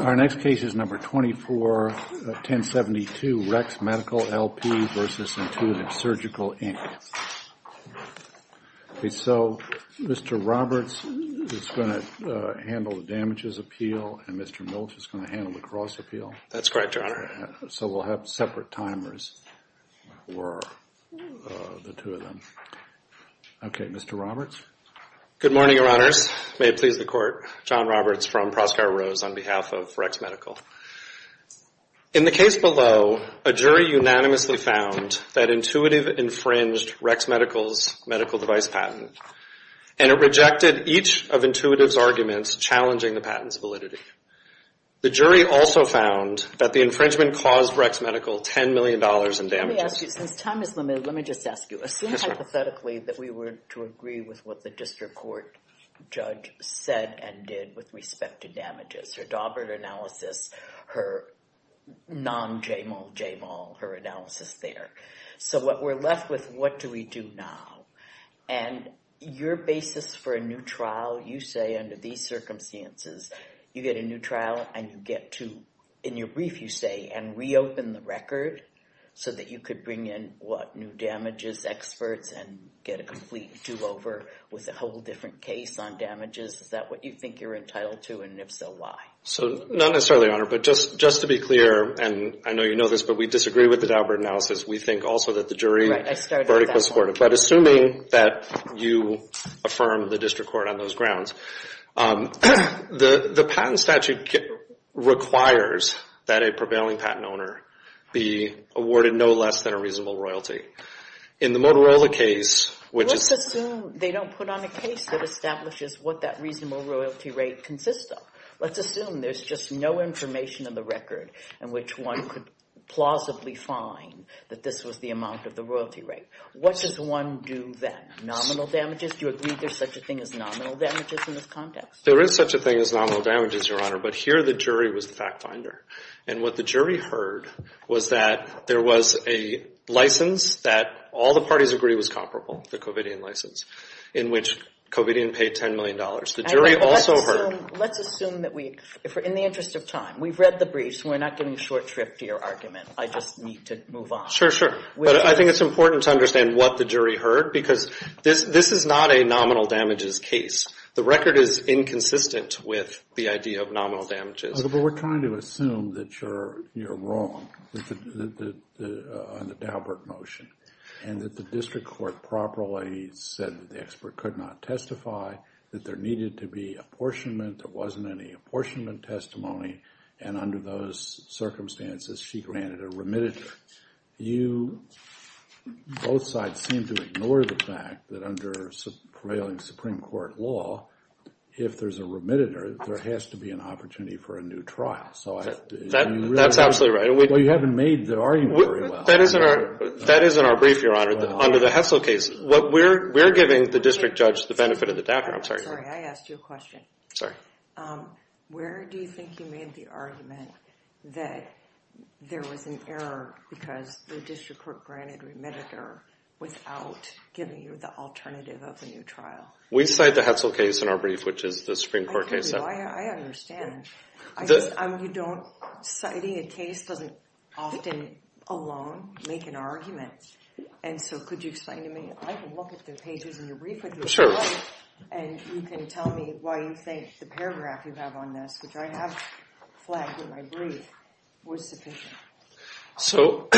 Our next case is No. 24-1072, RECS Medical, L.P. v. Intuitive Surgical, Inc. Okay, so Mr. Roberts is going to handle the damages appeal, and Mr. Mills is going to handle the cross appeal. That's correct, Your Honor. So we'll have separate timers for the two of them. Okay, Mr. Roberts. Good morning, Your Honors. May it please the Court. John Roberts from Proskauer Rose on behalf of RECS Medical. In the case below, a jury unanimously found that Intuitive infringed RECS Medical's medical device patent, and it rejected each of Intuitive's arguments challenging the patent's validity. The jury also found that the infringement caused RECS Medical $10 million in damages. Let me ask you, since time is limited, let me just ask you. I've seen hypothetically that we were to agree with what the district court judge said and did with respect to damages, her Daubert analysis, her non-Jamal Jamal, her analysis there. So what we're left with, what do we do now? And your basis for a new trial, you say under these circumstances, you get a new trial and you get to, in your brief you say, and reopen the record so that you could bring in, what, new damages experts and get a complete do-over with a whole different case on damages. Is that what you think you're entitled to, and if so, why? Not necessarily, Your Honor, but just to be clear, and I know you know this, but we disagree with the Daubert analysis. We think also that the jury vertical support it. But assuming that you affirm the district court on those grounds, the patent statute requires that a prevailing patent owner be awarded no less than a reasonable royalty. In the Motorola case, which is... Let's assume they don't put on a case that establishes what that reasonable royalty rate consists of. Let's assume there's just no information in the record in which one could plausibly find that this was the amount of the royalty rate. What does one do then? Nominal damages? Do you agree there's such a thing as nominal damages in this context? There is such a thing as nominal damages, Your Honor, but here the jury was the fact finder. And what the jury heard was that there was a license that all the parties agree was comparable, the Covidian license, in which Covidian paid $10 million. The jury also heard... Let's assume that we, in the interest of time, we've read the brief, so we're not giving a short trip to your argument. I just need to move on. I think it's important to understand what the jury heard because this is not a nominal damages case. The record is inconsistent with the idea of nominal damages. But we're trying to assume that you're wrong on the Daubert motion and that the district court properly said that the expert could not testify, that there needed to be apportionment, there wasn't any apportionment testimony, and under those circumstances she granted a remittance. You, both sides, seem to ignore the fact that under prevailing Supreme Court law, if there's a remittance, there has to be an opportunity for a new trial. That's absolutely right. Well, you haven't made the argument very well. That is in our brief, Your Honor, under the Hessel case. We're giving the district judge the benefit of the doubt here. I'm sorry, I asked you a question. Sorry. Where do you think you made the argument that there was an error because the district court granted remittance without giving you the alternative of a new trial? We cite the Hessel case in our brief, which is the Supreme Court case. I understand. You don't, citing a case doesn't often alone make an argument. And so could you explain to me? I can look at the pages in your brief with you. Sure. And you can tell me why you think the paragraph you have on this, which I have flagged in my brief, was sufficient. So,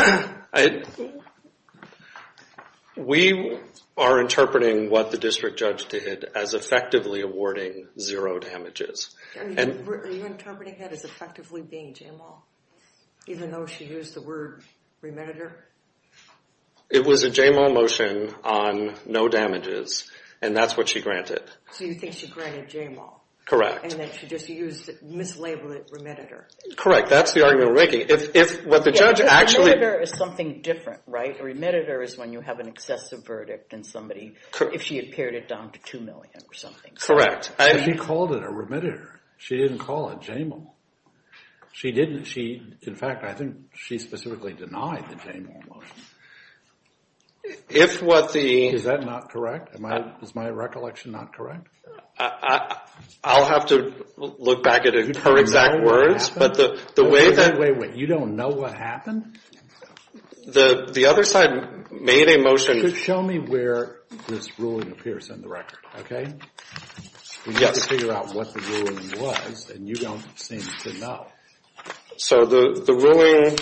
we are interpreting what the district judge did as effectively awarding zero damages. Are you interpreting that as effectively being JAMAL, even though she used the word remitter? It was a JAMAL motion on no damages, and that's what she granted. So you think she granted JAMAL. Correct. And then she just mislabeled it remitter. Correct. That's the argument we're making. Yeah, remitter is something different, right? A remitter is when you have an excessive verdict in somebody, if she had pared it down to 2 million or something. Correct. She called it a remitter. She didn't call it JAMAL. She didn't. In fact, I think she specifically denied the JAMAL motion. Is that not correct? Is my recollection not correct? I'll have to look back at her exact words. Wait, wait, wait. You don't know what happened? The other side made a motion. Just show me where this ruling appears in the record, okay? Yes. We need to figure out what the ruling was, and you don't seem to know. So the ruling,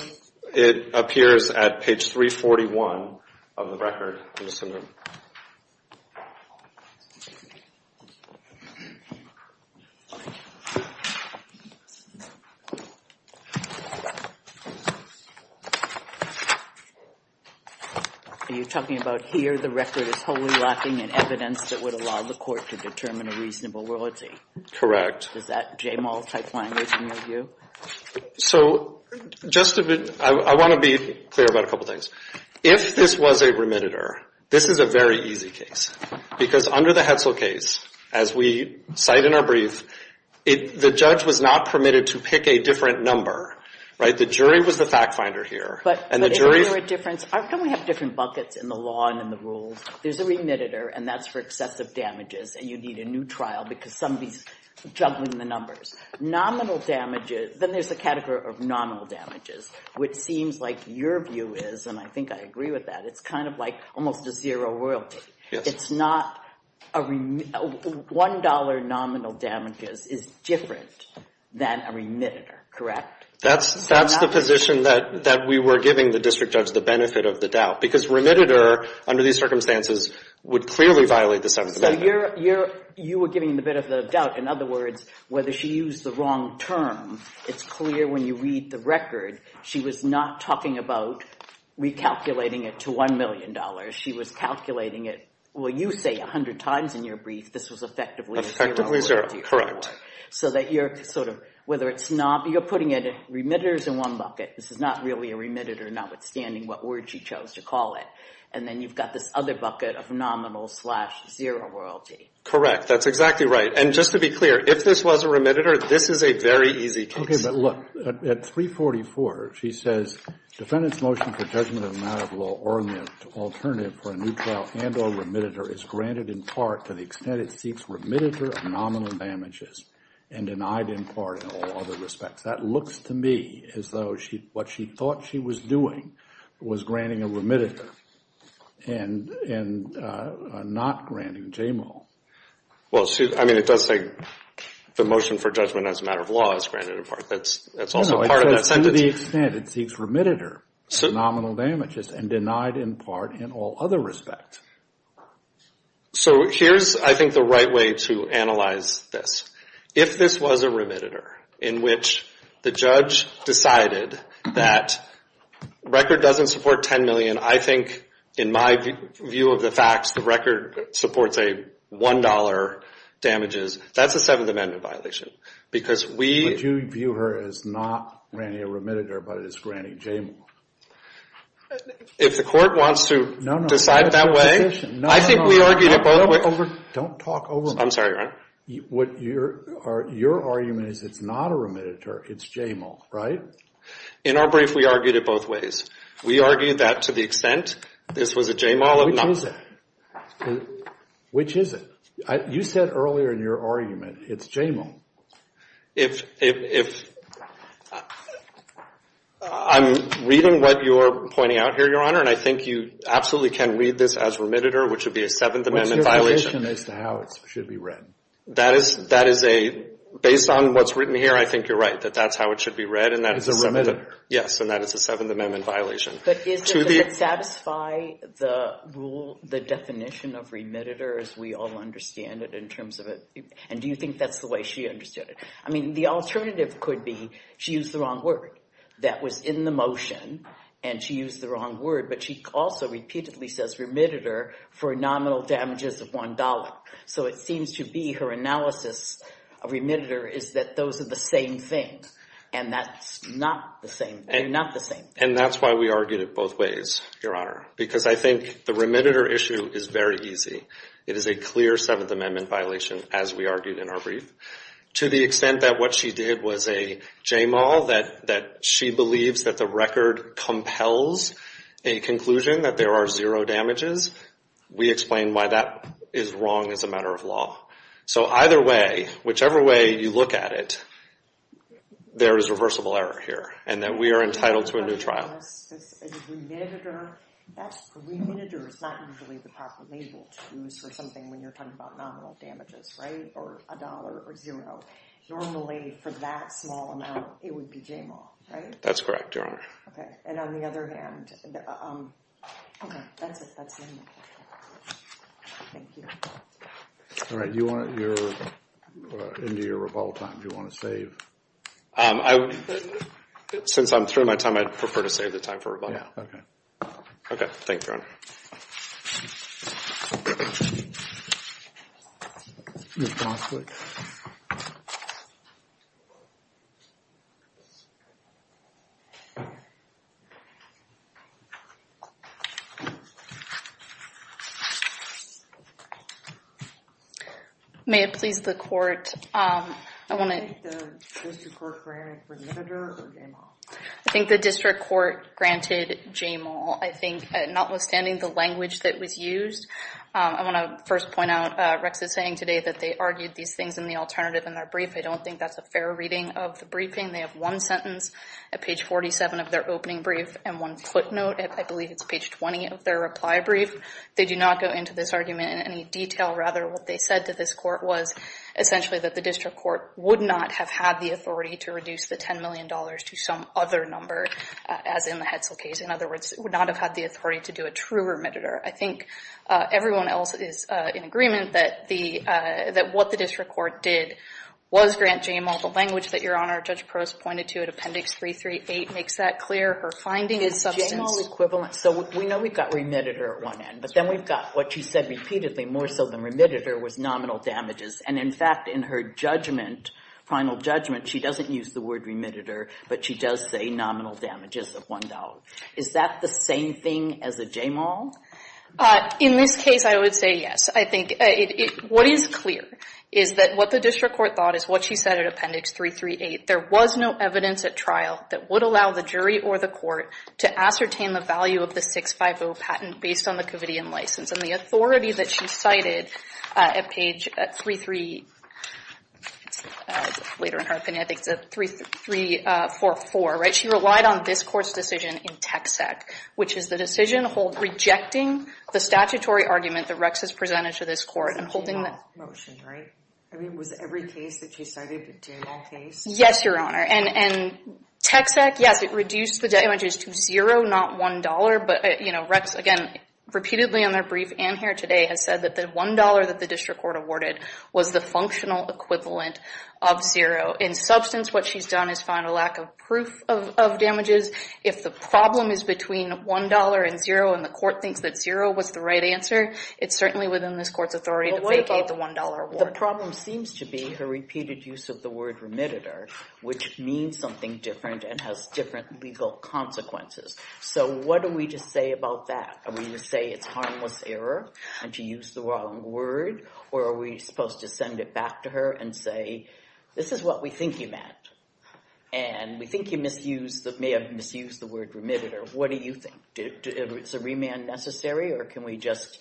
it appears at page 341 of the record. Are you talking about here? I believe the record is wholly lacking in evidence that would allow the court to determine a reasonable royalty. Correct. Is that JAMAL-type language in your view? So I want to be clear about a couple things. If this was a remitter, this is a very easy case because under the Hetzel case, as we cite in our brief, the judge was not permitted to pick a different number, right? The jury was the fact finder here. But isn't there a difference? Don't we have different buckets in the law and in the rules? There's a remitter, and that's for excessive damages, and you need a new trial because somebody's juggling the numbers. Nominal damages, then there's a category of nominal damages, which seems like your view is, and I think I agree with that, it's kind of like almost a zero royalty. Yes. It's not a remitter. $1 nominal damages is different than a remitter, correct? That's the position that we were giving the district judge, the benefit of the doubt, because remitter under these circumstances would clearly violate the 7th Amendment. So you were giving the benefit of the doubt. In other words, whether she used the wrong term, it's clear when you read the record, she was not talking about recalculating it to $1 million. She was calculating it, well, you say 100 times in your brief this was effectively a zero royalty. Effectively zero, correct. So that you're sort of, whether it's not, you're putting remitters in one bucket. This is not really a remitter, notwithstanding what word she chose to call it. And then you've got this other bucket of nominal slash zero royalty. Correct. That's exactly right. And just to be clear, if this was a remitter, this is a very easy case. Okay, but look, at 344, she says, defendant's motion for judgment of a matter of law or an alternative for a new trial and or remitter is granted in part to the extent it seeks remitter of nominal damages and denied in part in all other respects. That looks to me as though what she thought she was doing was granting a remitter and not granting JMO. Well, I mean, it does say the motion for judgment as a matter of law is granted in part. That's also part of that sentence. No, it says to the extent it seeks remitter of nominal damages and denied in part in all other respects. So here's, I think, the right way to analyze this. If this was a remitter in which the judge decided that record doesn't support $10 million, I think, in my view of the facts, the record supports a $1 damages, that's a Seventh Amendment violation. But you view her as not granting a remitter but as granting JMO. If the court wants to decide that way, I think we argued it both ways. Don't talk over me. I'm sorry. Your argument is it's not a remitter, it's JMO, right? In our brief, we argued it both ways. We argued that to the extent this was a JMO. Which is it? Which is it? You said earlier in your argument it's JMO. If I'm reading what you're pointing out here, Your Honor, and I think you absolutely can read this as remitter, which would be a Seventh Amendment violation. What's your relation as to how it should be read? That is a, based on what's written here, I think you're right, that that's how it should be read. It's a remitter. Yes, and that is a Seventh Amendment violation. But does it satisfy the rule, the definition of remitter, as we all understand it in terms of it? And do you think that's the way she understood it? I mean, the alternative could be she used the wrong word. That was in the motion, and she used the wrong word, but she also repeatedly says remitter for nominal damages of $1. So it seems to be her analysis of remitter is that those are the same things, and that's not the same thing. And that's why we argued it both ways, Your Honor, because I think the remitter issue is very easy. It is a clear Seventh Amendment violation, as we argued in our brief. To the extent that what she did was a j-mal, that she believes that the record compels a conclusion that there are zero damages, we explain why that is wrong as a matter of law. So either way, whichever way you look at it, there is reversible error here, and that we are entitled to a new trial. The remitter is not usually the proper label to use for something when you're talking about nominal damages, right, or $1 or $0. Normally, for that small amount, it would be j-mal, right? That's correct, Your Honor. And on the other hand, okay, that's it. That's the amendment. Thank you. All right, you're into your rebuttal time. Do you want to save? Since I'm throwing my time, I'd prefer to save the time for rebuttal. Okay. Okay, thank you, Your Honor. Ms. Bronswick. May it please the Court, I want to— Did the district court grant a remitter or j-mal? I think the district court granted j-mal. I think notwithstanding the language that was used, I want to first point out Rex's saying today that they argued these things in the alternative in their brief. I don't think that's a fair reading of the briefing. They have one sentence at page 47 of their opening brief and one footnote at, I believe, it's page 20 of their reply brief. They do not go into this argument in any detail. Rather, what they said to this court was essentially that the district court would not have had the authority to reduce the $10 million to some other number, as in the Hetzel case. In other words, it would not have had the authority to do a true remitter. I think everyone else is in agreement that what the district court did was grant j-mal. The language that, Your Honor, Judge Prost pointed to in Appendix 338 makes that clear. Her finding is substance— It's j-mal equivalent. So we know we've got remitter at one end, but then we've got what she said repeatedly, more so than remitter, was nominal damages. And, in fact, in her judgment, final judgment, she doesn't use the word remitter, but she does say nominal damages of $1. Is that the same thing as a j-mal? In this case, I would say yes. I think what is clear is that what the district court thought is what she said in Appendix 338. There was no evidence at trial that would allow the jury or the court to ascertain the value of the 650 patent based on the Covidian license. And the authority that she cited at page 33— It's later in her opinion. I think it's 3344, right? She relied on this court's decision in TXEC, which is the decision rejecting the statutory argument that Rex has presented to this court and holding the— J-mal's motion, right? I mean, was every case that she cited a j-mal case? Yes, Your Honor. And TXEC, yes, it reduced the damages to zero, not $1. But, you know, Rex, again, repeatedly on their brief and here today, has said that the $1 that the district court awarded was the functional equivalent of zero. In substance, what she's done is found a lack of proof of damages. If the problem is between $1 and zero, and the court thinks that zero was the right answer, it's certainly within this court's authority to vacate the $1 award. The problem seems to be her repeated use of the word remitter, which means something different and has different legal consequences. So what do we just say about that? Are we going to say it's harmless error and to use the wrong word? Or are we supposed to send it back to her and say, this is what we think you meant, and we think you may have misused the word remitter. What do you think? Is a remand necessary, or can we just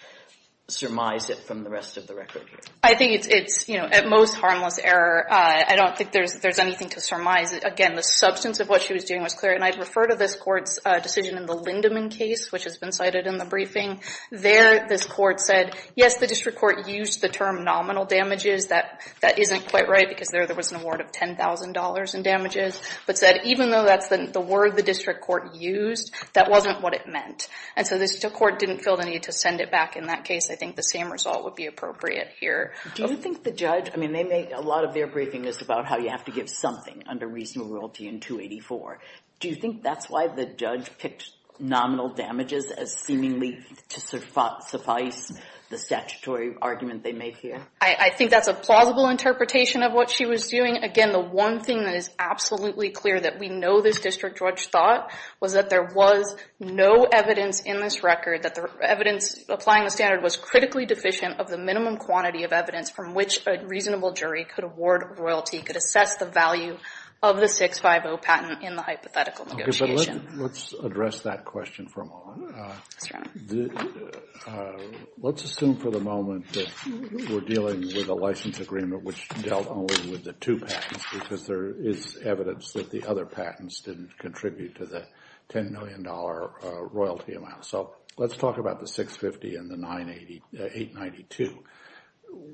surmise it from the rest of the record? I think it's, you know, at most, harmless error. I don't think there's anything to surmise. Again, the substance of what she was doing was clear, and I'd refer to this court's decision in the Lindeman case, which has been cited in the briefing. There, this court said, yes, the district court used the term nominal damages. That isn't quite right because there was an award of $10,000 in damages, but said even though that's the word the district court used, that wasn't what it meant. And so this court didn't feel the need to send it back in that case. I think the same result would be appropriate here. Do you think the judge, I mean, they make a lot of their briefings about how you have to give something under reasonable royalty in 284. Do you think that's why the judge picked nominal damages as seemingly to suffice the statutory argument they make here? I think that's a plausible interpretation of what she was doing. Again, the one thing that is absolutely clear that we know this district judge thought was that there was no evidence in this record, that the evidence applying the standard was critically deficient of the minimum quantity of evidence from which a reasonable jury could award royalty, could assess the value of the 650 patent in the hypothetical negotiation. Okay, but let's address that question for a moment. Let's assume for the moment that we're dealing with a license agreement which dealt only with the two patents because there is evidence that the other patents didn't contribute to the $10 million royalty amount. So let's talk about the 650 and the 892.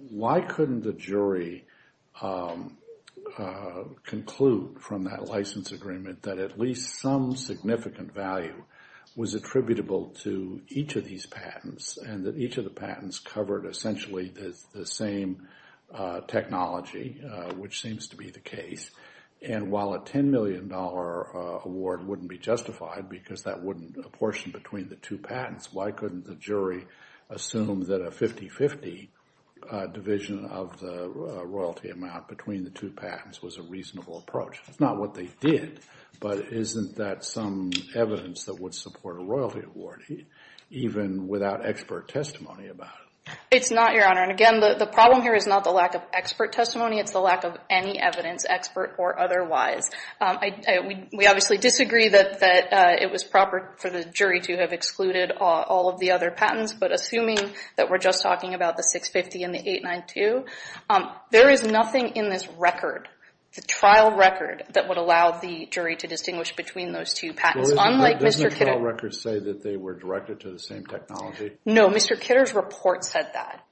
Why couldn't the jury conclude from that license agreement that at least some significant value was attributable to each of these patents and that each of the patents covered essentially the same technology, which seems to be the case? And while a $10 million award wouldn't be justified because that wouldn't apportion between the two patents, why couldn't the jury assume that a 50-50 division of the royalty amount between the two patents was a reasonable approach? It's not what they did, but isn't that some evidence that would support a royalty award even without expert testimony about it? It's not, Your Honor. And again, the problem here is not the lack of expert testimony, it's the lack of any evidence, expert or otherwise. We obviously disagree that it was proper for the jury to have excluded all of the other patents, but assuming that we're just talking about the 650 and the 892, there is nothing in this record, the trial record, that would allow the jury to distinguish between those two patents. Doesn't the trial record say that they were directed to the same technology? No, Mr. Kidder's report said that.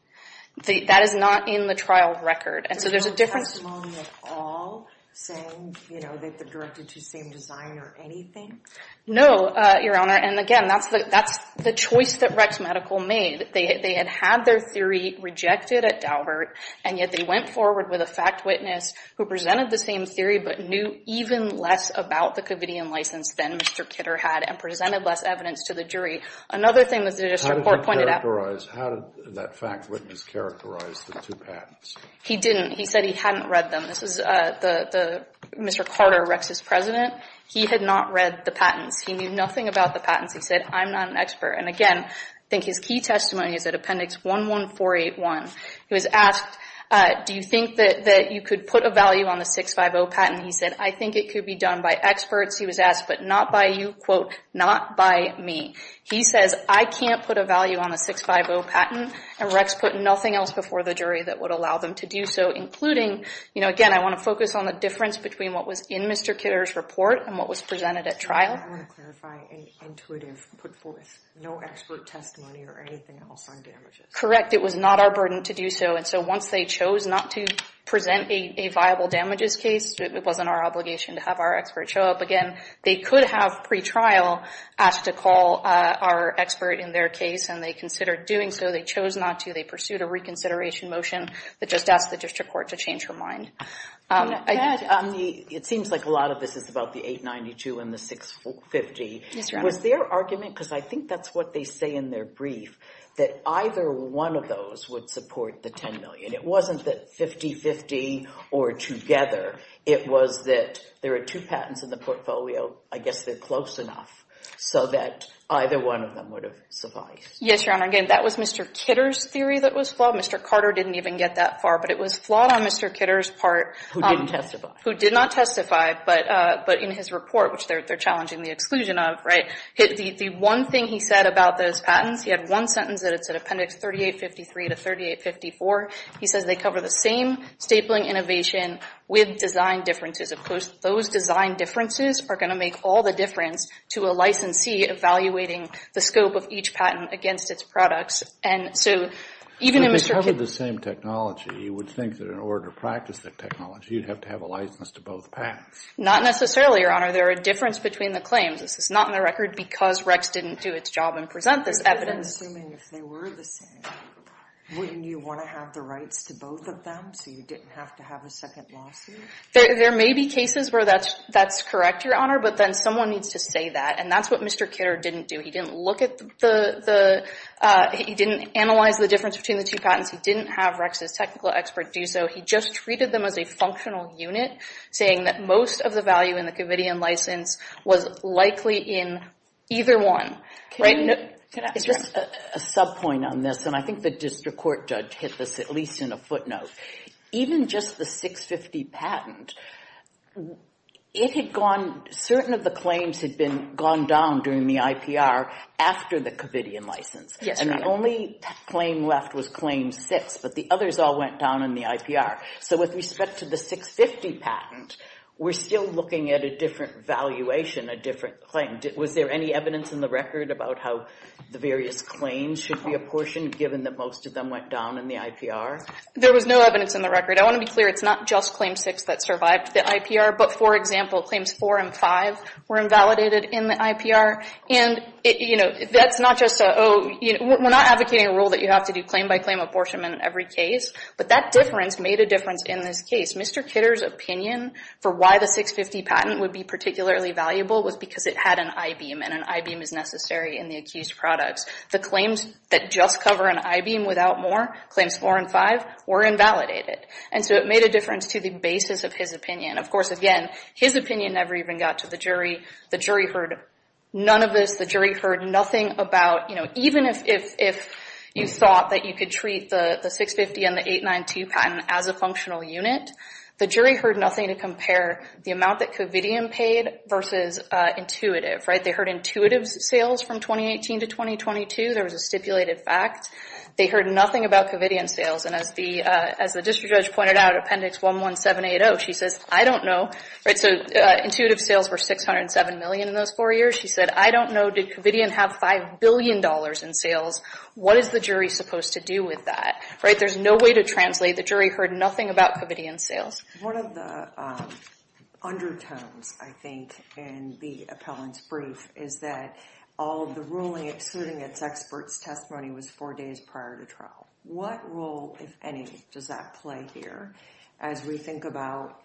That is not in the trial record. There's no testimony at all saying that they're directed to the same design or anything? No, Your Honor, and again, that's the choice that Rex Medical made. They had had their theory rejected at Daubert, and yet they went forward with a fact witness who presented the same theory but knew even less about the Covidian license than Mr. Kidder had and presented less evidence to the jury. Another thing that this report pointed out— How did that fact witness characterize the two patents? He didn't. He said he hadn't read them. This is Mr. Carter, Rex's president. He had not read the patents. He knew nothing about the patents. He said, I'm not an expert. And again, I think his key testimony is at Appendix 11481. He was asked, do you think that you could put a value on the 650 patent? He said, I think it could be done by experts. He was asked, but not by you, quote, not by me. He says, I can't put a value on the 650 patent, and Rex put nothing else before the jury that would allow them to do so, including, you know, again, I want to focus on the difference between what was in Mr. Kidder's report and what was presented at trial. I want to clarify an intuitive put forth. No expert testimony or anything else on damages. Correct. It was not our burden to do so. And so once they chose not to present a viable damages case, it wasn't our obligation to have our expert show up again. They could have pre-trial asked to call our expert in their case, and they considered doing so. They chose not to. They pursued a reconsideration motion that just asked the district court to change her mind. It seems like a lot of this is about the 892 and the 650. Was their argument, because I think that's what they say in their brief, that either one of those would support the 10 million. It wasn't that 50-50 or together. It was that there are two patents in the portfolio. I guess they're close enough so that either one of them would have sufficed. Yes, Your Honor. Again, that was Mr. Kidder's theory that was flawed. Mr. Carter didn't even get that far, but it was flawed on Mr. Kidder's part. Who didn't testify. Who did not testify, but in his report, which they're challenging the exclusion of, the one thing he said about those patents, he had one sentence that's in Appendix 3853 to 3854. He says they cover the same stapling innovation with design differences. Of course, those design differences are going to make all the difference to a licensee evaluating the scope of each patent against its products. If they cover the same technology, you would think that in order to practice that technology, you'd have to have a license to both patents. Not necessarily, Your Honor. There are differences between the claims. This is not in the record because Rex didn't do its job and present this evidence. I'm assuming if they were the same, wouldn't you want to have the rights to both of them so you didn't have to have a second lawsuit? There may be cases where that's correct, Your Honor, but then someone needs to say that, and that's what Mr. Kidder didn't do. He didn't analyze the difference between the two patents. He didn't have Rex's technical expert do so. He just treated them as a functional unit, saying that most of the value in the Covidian license was likely in either one. Can I ask a sub-point on this, and I think the district court judge hit this at least in a footnote. Even just the 650 patent, certain of the claims had gone down during the IPR after the Covidian license, and the only claim left was Claim 6, but the others all went down in the IPR. So with respect to the 650 patent, we're still looking at a different valuation, a different claim. Was there any evidence in the record about how the various claims should be apportioned given that most of them went down in the IPR? There was no evidence in the record. I want to be clear, it's not just Claim 6 that survived the IPR, but, for example, Claims 4 and 5 were invalidated in the IPR, and we're not advocating a rule that you have to do claim-by-claim apportionment in every case, but that difference made a difference in this case. Mr. Kidder's opinion for why the 650 patent would be particularly valuable was because it had an I-beam, and an I-beam is necessary in the accused products. The claims that just cover an I-beam without more, Claims 4 and 5, were invalidated, and so it made a difference to the basis of his opinion. Of course, again, his opinion never even got to the jury. The jury heard none of this. The jury heard nothing about, you know, even if you thought that you could treat the 650 and the 892 patent as a functional unit, the jury heard nothing to compare the amount that Covidian paid versus Intuitive, right? They heard Intuitive's sales from 2018 to 2022. There was a stipulated fact. They heard nothing about Covidian's sales, and as the district judge pointed out, Appendix 11780, she says, I don't know. Right, so Intuitive's sales were $607 million in those 4 years. She said, I don't know. Did Covidian have $5 billion in sales? What is the jury supposed to do with that? Right, there's no way to translate. The jury heard nothing about Covidian's sales. One of the undertones, I think, in the appellant's brief is that all of the ruling, excluding its expert's testimony, was 4 days prior to trial. What role, if any, does that play here as we think about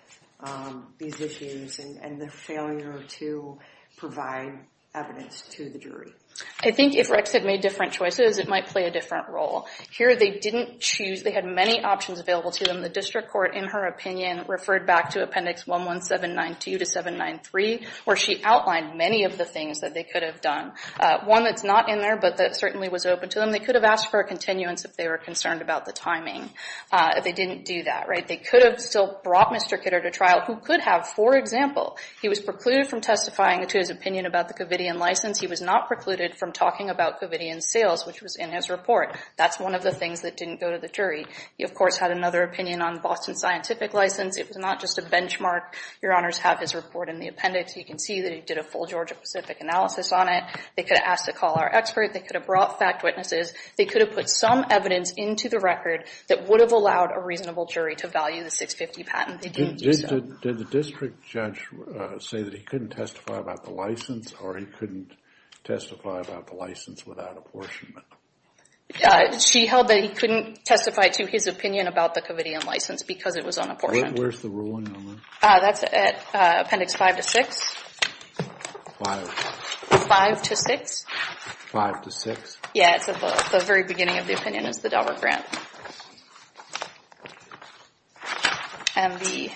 these issues and the failure to provide evidence to the jury? I think if Rex had made different choices, it might play a different role. Here, they didn't choose. They had many options available to them. The district court, in her opinion, referred back to Appendix 11792 to 793, where she outlined many of the things that they could have done. One that's not in there, but that certainly was open to them, they could have asked for a continuance if they were concerned about the timing. They didn't do that. They could have still brought Mr. Kidder to trial, who could have, for example, he was precluded from testifying to his opinion about the Covidian license. He was not precluded from talking about Covidian's sales, which was in his report. That's one of the things that didn't go to the jury. He, of course, had another opinion on the Boston Scientific license. It was not just a benchmark. Your Honors have his report in the appendix. You can see that he did a full Georgia-Pacific analysis on it. They could have asked to call our expert. They could have brought fact witnesses. They could have put some evidence into the record that would have allowed a reasonable jury to value the 650 patent. They didn't do so. Did the district judge say that he couldn't testify about the license, or he couldn't testify about the license without apportionment? She held that he couldn't testify to his opinion about the Covidian license because it was unapportioned. Where's the ruling on that? That's at appendix five to six. Five. Five to six. Five to six? Yeah, it's at the very beginning of the opinion, is the Daubert grant. And the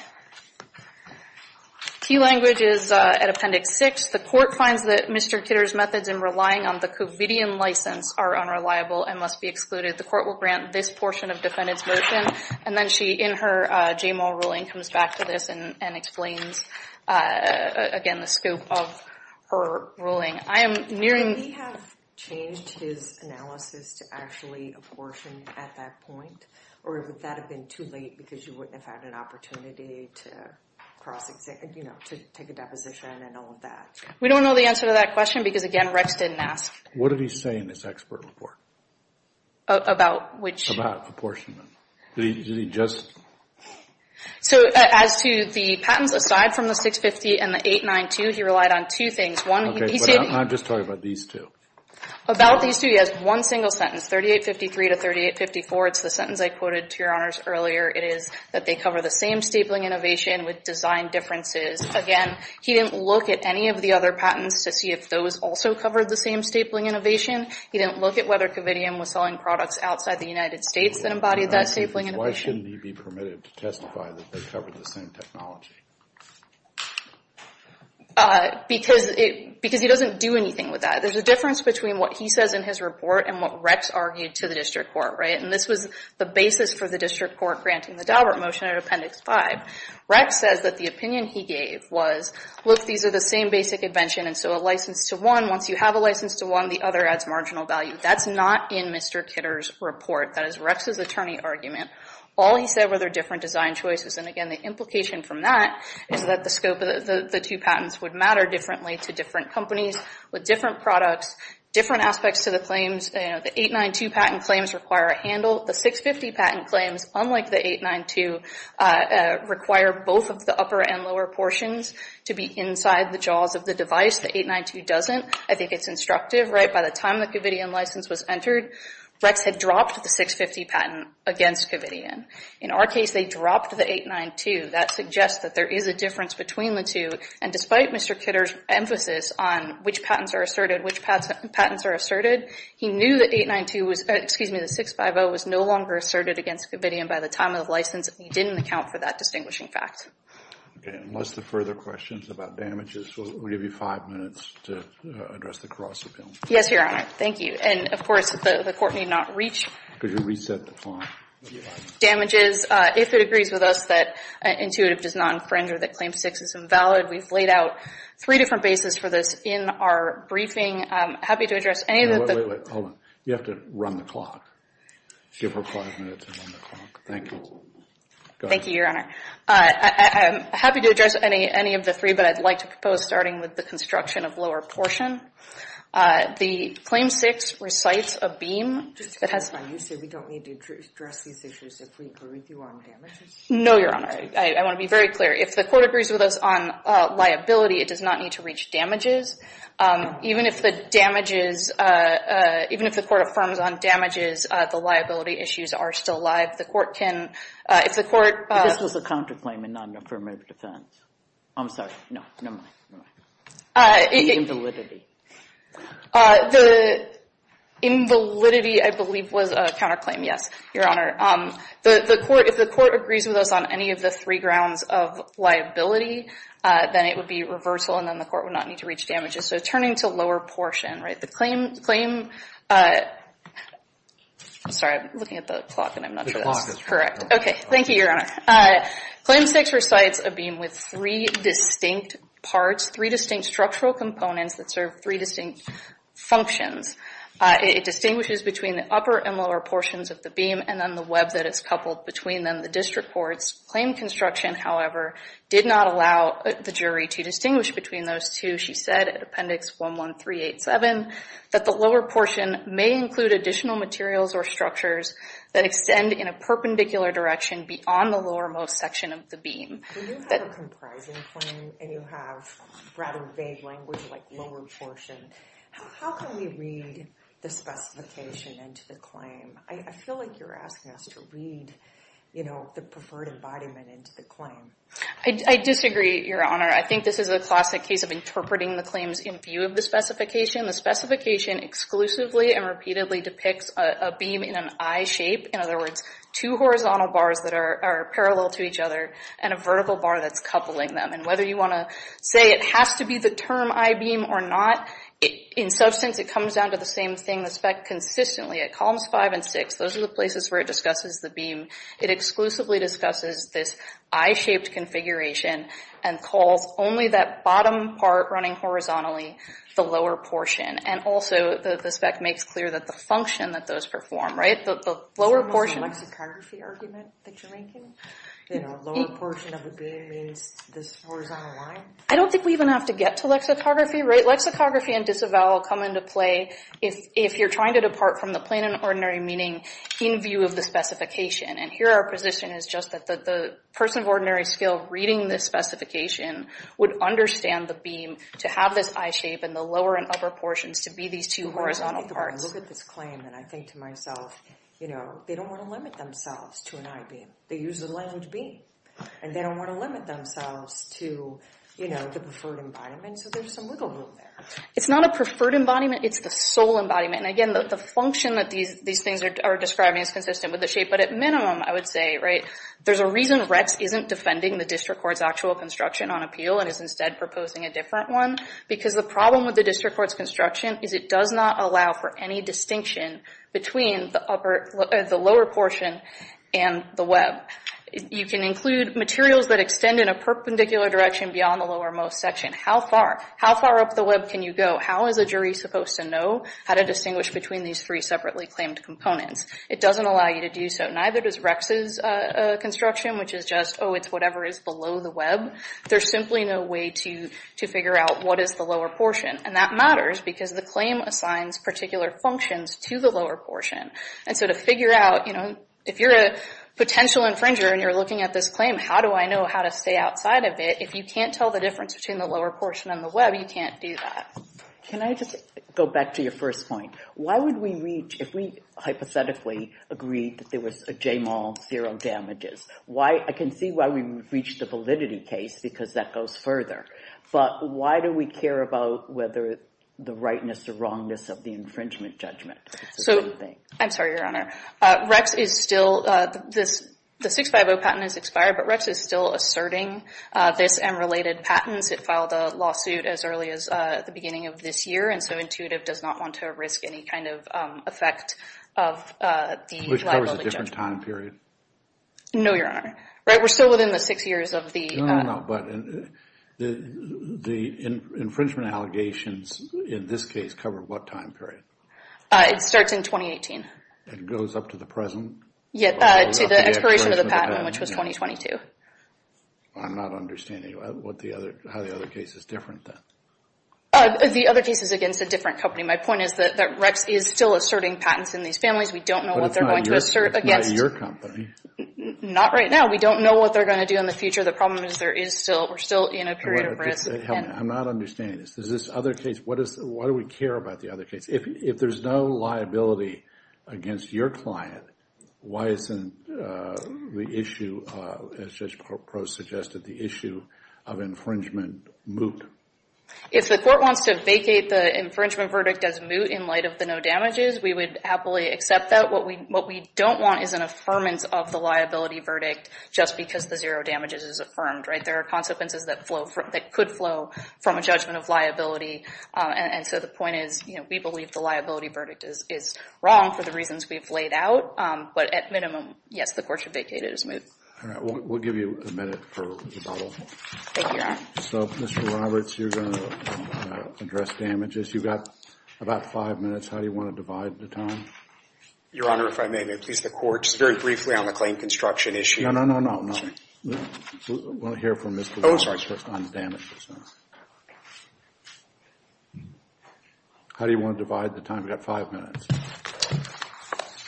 T language is at appendix six. The court finds that Mr. Kidder's methods in relying on the Covidian license are unreliable and must be excluded. The court will grant this portion of defendant's motion. And then she, in her JMO ruling, comes back to this and explains, again, the scope of her ruling. I am nearing- Would he have changed his analysis to actually apportion at that point, or would that have been too late because you wouldn't have had an opportunity to take a deposition and all of that? We don't know the answer to that question because, again, Rex didn't ask- What did he say in this expert report? About which- About apportionment. Did he just- So, as to the patents, aside from the 650 and the 892, he relied on two things. Okay, but I'm just talking about these two. About these two, he has one single sentence, 3853 to 3854. It's the sentence I quoted to Your Honors earlier. It is that they cover the same stapling innovation with design differences. Again, he didn't look at any of the other patents to see if those also covered the same stapling innovation. He didn't look at whether Covidian was selling products outside the United States that embodied that stapling innovation. Why shouldn't he be permitted to testify that they covered the same technology? Because he doesn't do anything with that. There's a difference between what he says in his report and what Rex argued to the district court, right? And this was the basis for the district court granting the Daubert motion at Appendix 5. Rex says that the opinion he gave was, look, these are the same basic invention, and so a license to one, once you have a license to one, the other adds marginal value. That's not in Mr. Kidder's report. That is Rex's attorney argument. All he said were they're different design choices. And again, the implication from that is that the scope of the two patents would matter differently to different companies with different products, different aspects to the claims. The 892 patent claims require a handle. The 650 patent claims, unlike the 892, require both of the upper and lower portions to be inside the jaws of the device. The 892 doesn't. I think it's instructive, right? By the time the Covidian license was entered, Rex had dropped the 650 patent against Covidian. In our case, they dropped the 892. That suggests that there is a difference between the two. And despite Mr. Kidder's emphasis on which patents are asserted, which patents are asserted, he knew that 892 was, excuse me, the 650 was no longer asserted against Covidian by the time of the license. He didn't account for that distinguishing fact. OK. Unless there are further questions about damages, we'll give you five minutes to address the cross-appeal. Yes, Your Honor. Thank you. And of course, the court need not reach. Could you reset the time? Damages. If it agrees with us that intuitive does not infringe or that Claim 6 is invalid, we've laid out three different bases for this in our briefing. I'm happy to address any of the- Wait, wait, wait. Hold on. You have to run the clock. Give her five minutes and run the clock. Thank you. Thank you, Your Honor. I'm happy to address any of the three, but I'd like to propose starting with the construction of lower portion. The Claim 6 recites a beam that has- You said we don't need to address these issues if we include you on damages? No, Your Honor. I want to be very clear. If the court agrees with us on liability, it does not need to reach damages. Even if the damages- Even if the court affirms on damages, the liability issues are still alive. The court can- If the court- This was a counterclaim and not an affirmative defense. I'm sorry. No, never mind. Invalidity. The invalidity, I believe, was a counterclaim. Yes, Your Honor. If the court agrees with us on any of the three grounds of liability, then it would be reversal, and then the court would not need to reach damages. So turning to lower portion, right? The claim- I'm sorry. I'm looking at the clock, and I'm not sure that's correct. Okay. Thank you, Your Honor. Claim 6 recites a beam with three distinct parts, three distinct structural components that serve three distinct functions. It distinguishes between the upper and lower portions of the beam, and then the web that is coupled between them, the district courts. Claim construction, however, did not allow the jury to distinguish between those two. She said at Appendix 11387 that the lower portion may include additional materials or structures that extend in a perpendicular direction beyond the lowermost section of the beam. When you have a comprising claim, and you have rather vague language like lower portion, how can we read the specification into the claim? I feel like you're asking us to read, you know, the preferred embodiment into the claim. I disagree, Your Honor. I think this is a classic case of interpreting the claims in view of the specification. The specification exclusively and repeatedly depicts a beam in an I shape, in other words, two horizontal bars that are parallel to each other, and a vertical bar that's coupling them. Whether you want to say it has to be the term I beam or not, in substance, it comes down to the same thing. The spec consistently, at columns five and six, those are the places where it discusses the beam. It exclusively discusses this I shaped configuration and calls only that bottom part running horizontally the lower portion. Also, the spec makes clear that the function that those perform, right? The lower portion. Is that a lexicography argument that you're making? You know, lower portion of the beam means this horizontal line? I don't think we even have to get to lexicography, right? Lexicography and disavowal come into play if you're trying to depart from the plain and ordinary meaning in view of the specification. And here our position is just that the person of ordinary skill reading this specification would understand the beam to have this I shape and the lower and upper portions to be these two horizontal parts. I look at this claim and I think to myself, you know, they don't want to limit themselves to an I beam. They use the land beam. And they don't want to limit themselves to, you know, the preferred embodiment, so there's some wiggle room there. It's not a preferred embodiment, it's the sole embodiment. And again, the function that these things are describing is consistent with the shape, but at minimum, I would say, right? There's a reason RETS isn't defending the district court's actual construction on appeal and is instead proposing a different one because the problem with the district court's construction is it does not allow for any distinction between the lower portion and the web. You can include materials that extend in a perpendicular direction beyond the lowermost section. How far up the web can you go? How is a jury supposed to know how to distinguish between these three separately claimed components? It doesn't allow you to do so. Neither does RETS's construction, which is just, oh, it's whatever is below the web. There's simply no way to figure out what is the lower portion. And that matters because the claim assigns particular functions to the lower portion. And so to figure out, you know, if you're a potential infringer and you're looking at this claim, how do I know how to stay outside of it? If you can't tell the difference between the lower portion and the web, you can't do that. Can I just go back to your first point? Why would we reach, if we hypothetically agreed that there was a J-mall, zero damages, I can see why we would reach the validity case because that goes further. But why do we care about whether the rightness is the wrongness of the infringement judgment? It's a different thing. I'm sorry, Your Honor. RETS is still, the 650 patent is expired, but RETS is still asserting this and related patents. It filed a lawsuit as early as the beginning of this year, and so Intuitive does not want to risk any kind of effect of the liability judgment. Which covers a different time period. No, Your Honor. Right, we're still within the six years of the... No, no, no, but the infringement allegations in this case cover what time period? It starts in 2018. It goes up to the present? Yeah, to the expiration of the patent, which was 2022. I'm not understanding how the other case is different then. The other case is against a different company. My point is that RETS is still asserting patents in these families. We don't know what they're going to assert against... But it's not your company. Not right now. We don't know what they're going to do in the future. The problem is we're still in a period of risk. I'm not understanding this. Why do we care about the other case? If there's no liability against your client, why isn't the issue, as Judge Prost suggested, the issue of infringement moot? If the court wants to vacate the infringement verdict as moot in light of the no damages, we would happily accept that. What we don't want is an affirmance of the liability verdict just because the zero damages is affirmed. There are consequences that could flow from a judgment of liability. And so the point is we believe the liability verdict is wrong for the reasons we've laid out. But at minimum, yes, the court should vacate it as moot. All right. We'll give you a minute for rebuttal. Thank you, Your Honor. So, Mr. Roberts, you're going to address damages. You've got about five minutes. How do you want to divide the time? Your Honor, if I may, may I please ask the court just very briefly on the claim construction issue? No, no, no, no. We'll hear from Mr. Roberts first on the damages. How do you want to divide the time? We've got five minutes.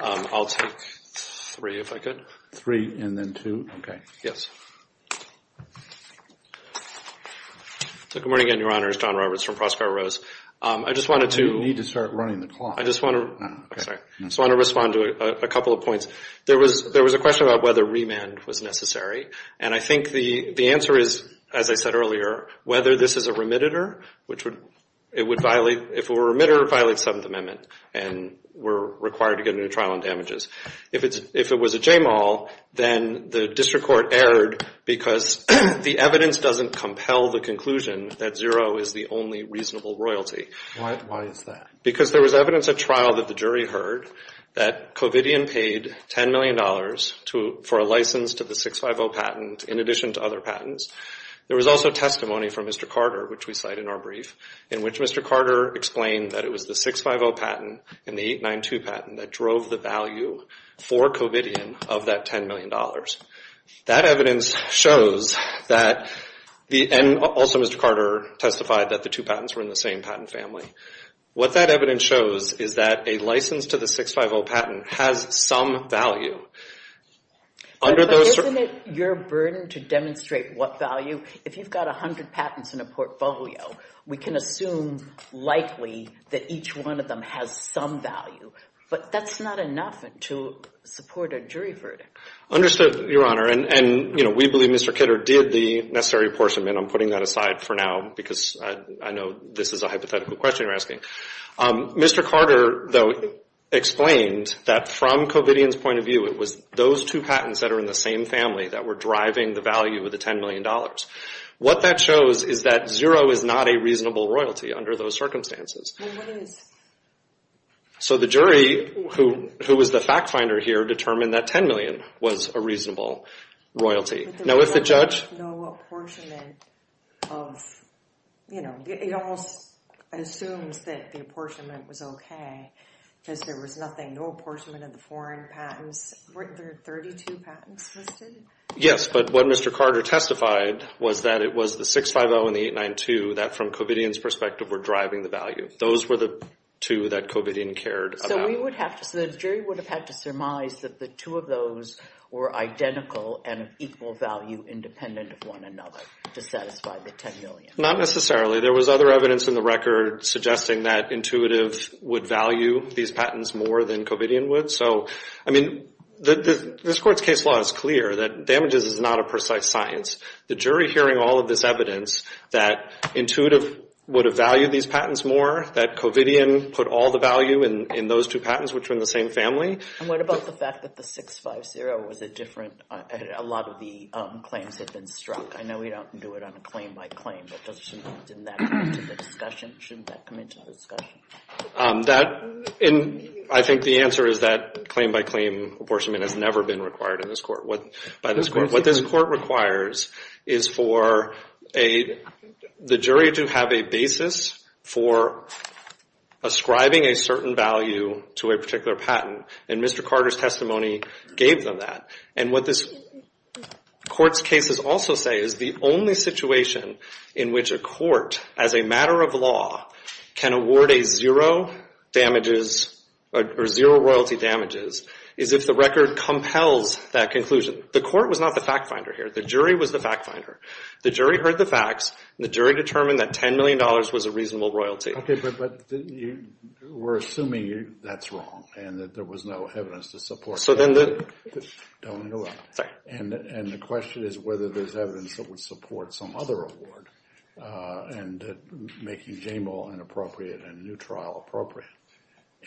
I'll take three if I could. Three and then two? Yes. Good morning again, Your Honor. It's John Roberts from Prospero Rose. I just wanted to... You need to start running the clock. I just want to respond to a couple of points. There was a question about whether remand was necessary. And I think the answer is, as I said earlier, whether this is a remitter, which it would violate... If it were a remitter, it would violate the Seventh Amendment and we're required to get a new trial on damages. If it was a JMAL, then the district court erred because the evidence doesn't compel the conclusion that zero is the only reasonable royalty. Why is that? Because there was evidence at trial that the jury heard that Covidian paid $10 million for a license to the 650 patent in addition to other patents. There was also testimony from Mr. Carter, which we cite in our brief, in which Mr. Carter explained that it was the 650 patent and the 892 patent that drove the value for Covidian of that $10 million. That evidence shows that... And also Mr. Carter testified that the two patents were in the same patent family. What that evidence shows is that a license to the 650 patent has some value under those... Isn't it your burden to demonstrate what value... If you've got 100 patents in a portfolio, we can assume likely that each one of them has some value. But that's not enough to support a jury verdict. Understood, Your Honor. And we believe Mr. Kidder did the necessary apportionment. I'm putting that aside for now because I know this is a hypothetical question you're asking. Mr. Carter, though, explained that from Covidian's point of view, it was those two patents that are in the same family that were driving the value of the $10 million. What that shows is that zero is not a reasonable royalty under those circumstances. So the jury, who was the fact finder here, determined that $10 million was a reasonable royalty. Now, if the judge... No apportionment of... You know, it almost assumes that the apportionment was okay because there was nothing. No apportionment of the foreign patents. Weren't there 32 patents listed? Yes, but what Mr. Carter testified was that it was the 650 and the 892 that, from Covidian's perspective, were driving the value. Those were the two that Covidian cared about. So we would have to... So the jury would have had to surmise that the two of those were identical and of equal value independent of one another to satisfy the $10 million. Not necessarily. There was other evidence in the record suggesting that Intuitive would value these patents more than Covidian would. So, I mean, this court's case law is clear that damages is not a precise science. The jury, hearing all of this evidence, that Intuitive would have valued these patents more, that Covidian put all the value in those two patents, which were in the same family... And what about the fact that the 650 was a different... A lot of the claims had been struck. I know we don't do it on a claim-by-claim, but shouldn't that come into the discussion? I think the answer is that claim-by-claim apportionment has never been required by this court. What this court requires is for the jury to have a basis for ascribing a certain value to a particular patent, and Mr. Carter's testimony gave them that. And what this court's cases also say is the only situation in which a court, as a matter of law, can award a zero royalty damages is if the record compels that conclusion. The court was not the fact-finder here. The jury was the fact-finder. The jury heard the facts, and the jury determined that $10 million was a reasonable royalty. Okay, but we're assuming that's wrong and that there was no evidence to support that. So then the... Don't interrupt. Sorry. And the question is whether there's evidence that would support some other award and making JAMAL inappropriate and a new trial appropriate.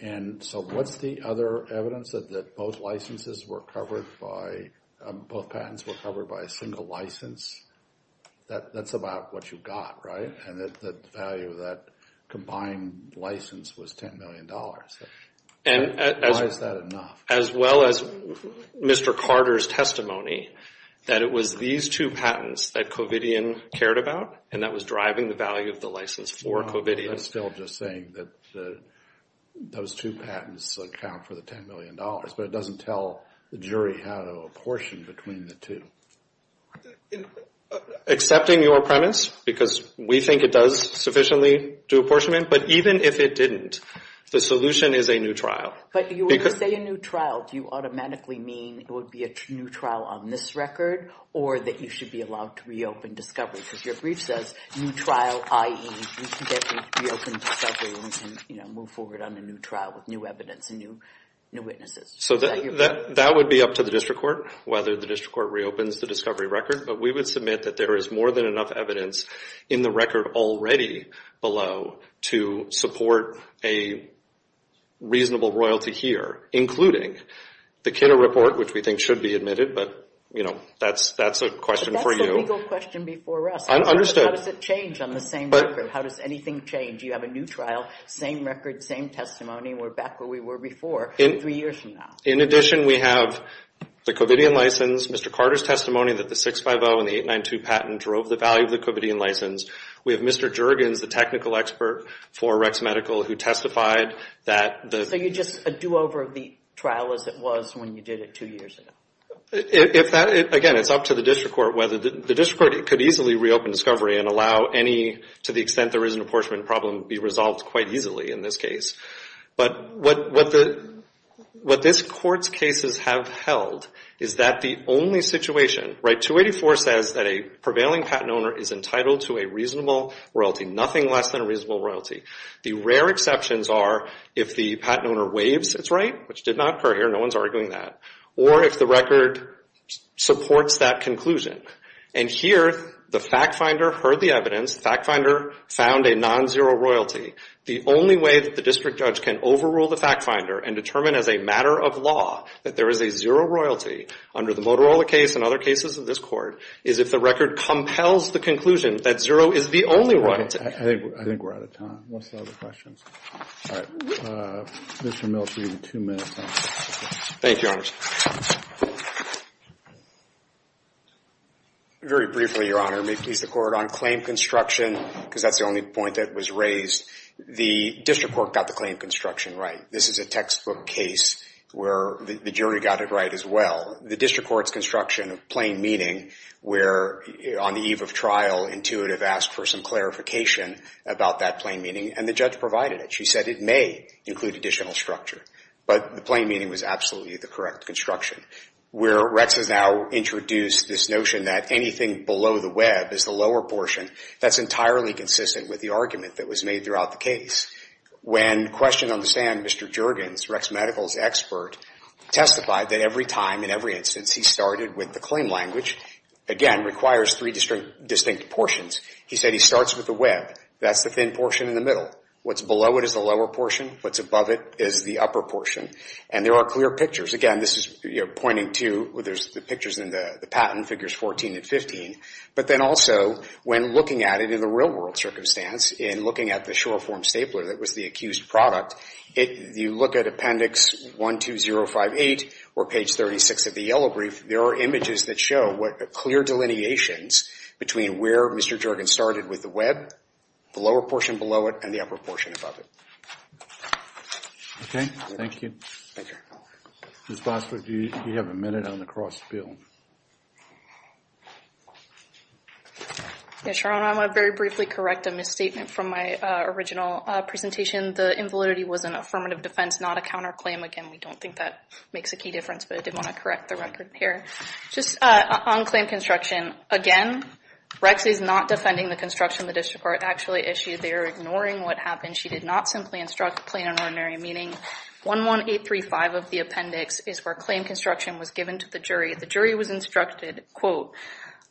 And so what's the other evidence, that both licenses were covered by... both patents were covered by a single license? That's about what you got, right? And that the value of that combined license was $10 million. Why is that enough? As well as Mr. Carter's testimony that it was these two patents that Covidian cared about and that was driving the value of the license for Covidian. I'm still just saying that those two patents account for the $10 million, but it doesn't tell the jury how to apportion between the two. Accepting your premise, because we think it does sufficiently do apportionment, but even if it didn't, the solution is a new trial. But when you say a new trial, do you automatically mean it would be a new trial on this record or that you should be allowed to reopen discovery? Because your brief says new trial, i.e., we can get reopened discovery and we can move forward on a new trial with new evidence and new witnesses. So that would be up to the district court, whether the district court reopens the discovery record. But we would submit that there is more than enough evidence in the record already below to support a reasonable royalty here, including the Kidder Report, which we think should be admitted, but that's a question for you. But that's a legal question before us. How does it change on the same record? How does anything change? You have a new trial, same record, same testimony, and we're back where we were before three years from now. In addition, we have the Covidian license, Mr. Carter's testimony that the 650 and the 892 patent drove the value of the Covidian license. We have Mr. Juergens, the technical expert for Rex Medical, who testified that the... So you're just a do-over of the trial as it was when you did it two years ago. If that, again, it's up to the district court, whether the district court could easily reopen discovery and allow any, to the extent there is an apportionment problem, be resolved quite easily in this case. But what this court's cases have held is that the only situation... Right, 284 says that a prevailing patent owner is entitled to a reasonable royalty, nothing less than a reasonable royalty. The rare exceptions are if the patent owner waives its right, which did not occur here, no one's arguing that, or if the record supports that conclusion. And here, the fact finder heard the evidence, the fact finder found a non-zero royalty. The only way that the district judge can overrule the fact finder and determine as a matter of law that there is a zero royalty under the Motorola case and other cases of this court is if the record compels the conclusion that zero is the only right. I think we're out of time. What's the other questions? All right. Commissioner Mills, we have two minutes left. Thank you, Your Honor. Very briefly, Your Honor, may it please the Court, on claim construction, because that's the only point that was raised, the district court got the claim construction right. This is a textbook case where the jury got it right as well. The district court's construction of plain meaning, where on the eve of trial, intuitive asked for some clarification about that plain meaning, and the judge provided it. She said it may include additional structure, but the plain meaning was absolutely the correct construction. Where Rex has now introduced this notion that anything below the web is the lower portion, that's entirely consistent with the argument that was made throughout the case. When questioned on the stand, Mr. Juergens, Rex Medical's expert, testified that every time, in every instance, he started with the claim language. Again, requires three distinct portions. He said he starts with the web. That's the thin portion in the middle. What's below it is the lower portion. What's above it is the upper portion. And there are clear pictures. Again, this is pointing to, there's the pictures in the patent, figures 14 and 15. But then also, when looking at it in the real-world circumstance, in looking at the short-form stapler that was the accused product, you look at appendix 12058 or page 36 of the yellow brief, there are images that show clear delineations between where Mr. Juergens started with the web, the lower portion below it, and the upper portion above it. Okay. Thank you. Thank you. Ms. Bosford, do you have a minute on the cross bill? Yes, Your Honor. I want to very briefly correct a misstatement from my original presentation. The invalidity was an affirmative defense, not a counterclaim. Again, we don't think that makes a key difference, but I did want to correct the record here. Just on claim construction, again, Rex is not defending the construction the district court actually issued. They are ignoring what happened. She did not simply instruct plain and ordinary, meaning 11835 of the appendix is where claim construction was given to the jury. The jury was instructed, quote,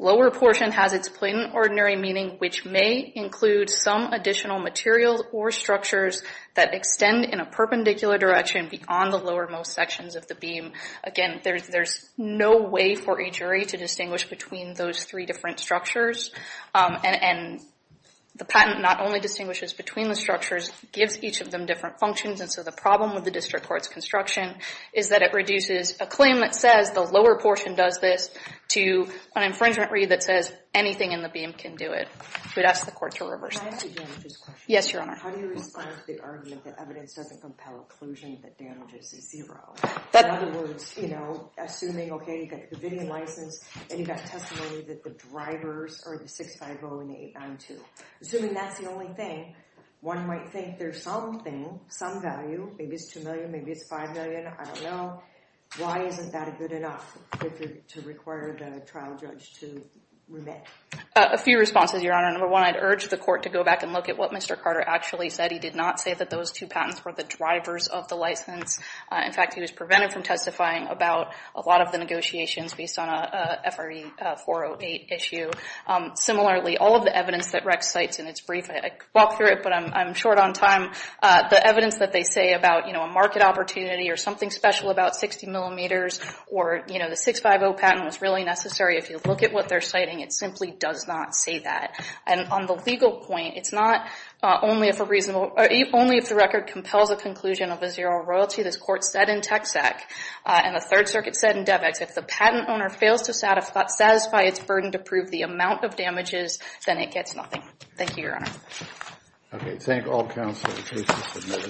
lower portion has its plain and ordinary meaning, which may include some additional materials or structures that extend in a perpendicular direction beyond the lower most sections of the beam. Again, there's no way for a jury to distinguish between those three different structures. And the patent not only distinguishes between the structures, gives each of them different functions. And so the problem with the district court's construction is that it reduces a claim that says the lower portion does this to an infringement read that says anything in the beam can do it. We'd ask the court to reverse that. Can I ask a damages question? Yes, Your Honor. How do you respond to the argument that evidence doesn't compel occlusion, that damages is zero? In other words, you know, assuming, okay, you've got a convenient license and you've got testimony that the drivers are the 650 and the 892. Assuming that's the only thing, one might think there's something, some value, maybe it's 2 million, maybe it's 5 million, I don't know. Why isn't that a good enough to require the trial judge to remit? A few responses, Your Honor. Number one, I'd urge the court to go back and look at what Mr. Carter actually said. He did not say that those two patents were the drivers of the license. In fact, he was prevented from testifying about a lot of the negotiations based on a FRE 408 issue. Similarly, all of the evidence that Rex cites in its brief, I walked through it, but I'm short on time. The evidence that they say about, you know, a market opportunity or something special about 60 millimeters or, you know, the 650 patent was really necessary. If you look at what they're citing, it simply does not say that. And on the legal point, it's not only if a reasonable, only if the record compels a conclusion of a zero royalty. This court said in Texac and the Third Circuit said in DevEx, if the patent owner fails to satisfy its burden to prove the amount of damages, then it gets nothing. Thank you, Your Honor. Okay. Thank all counsel. The case is submitted.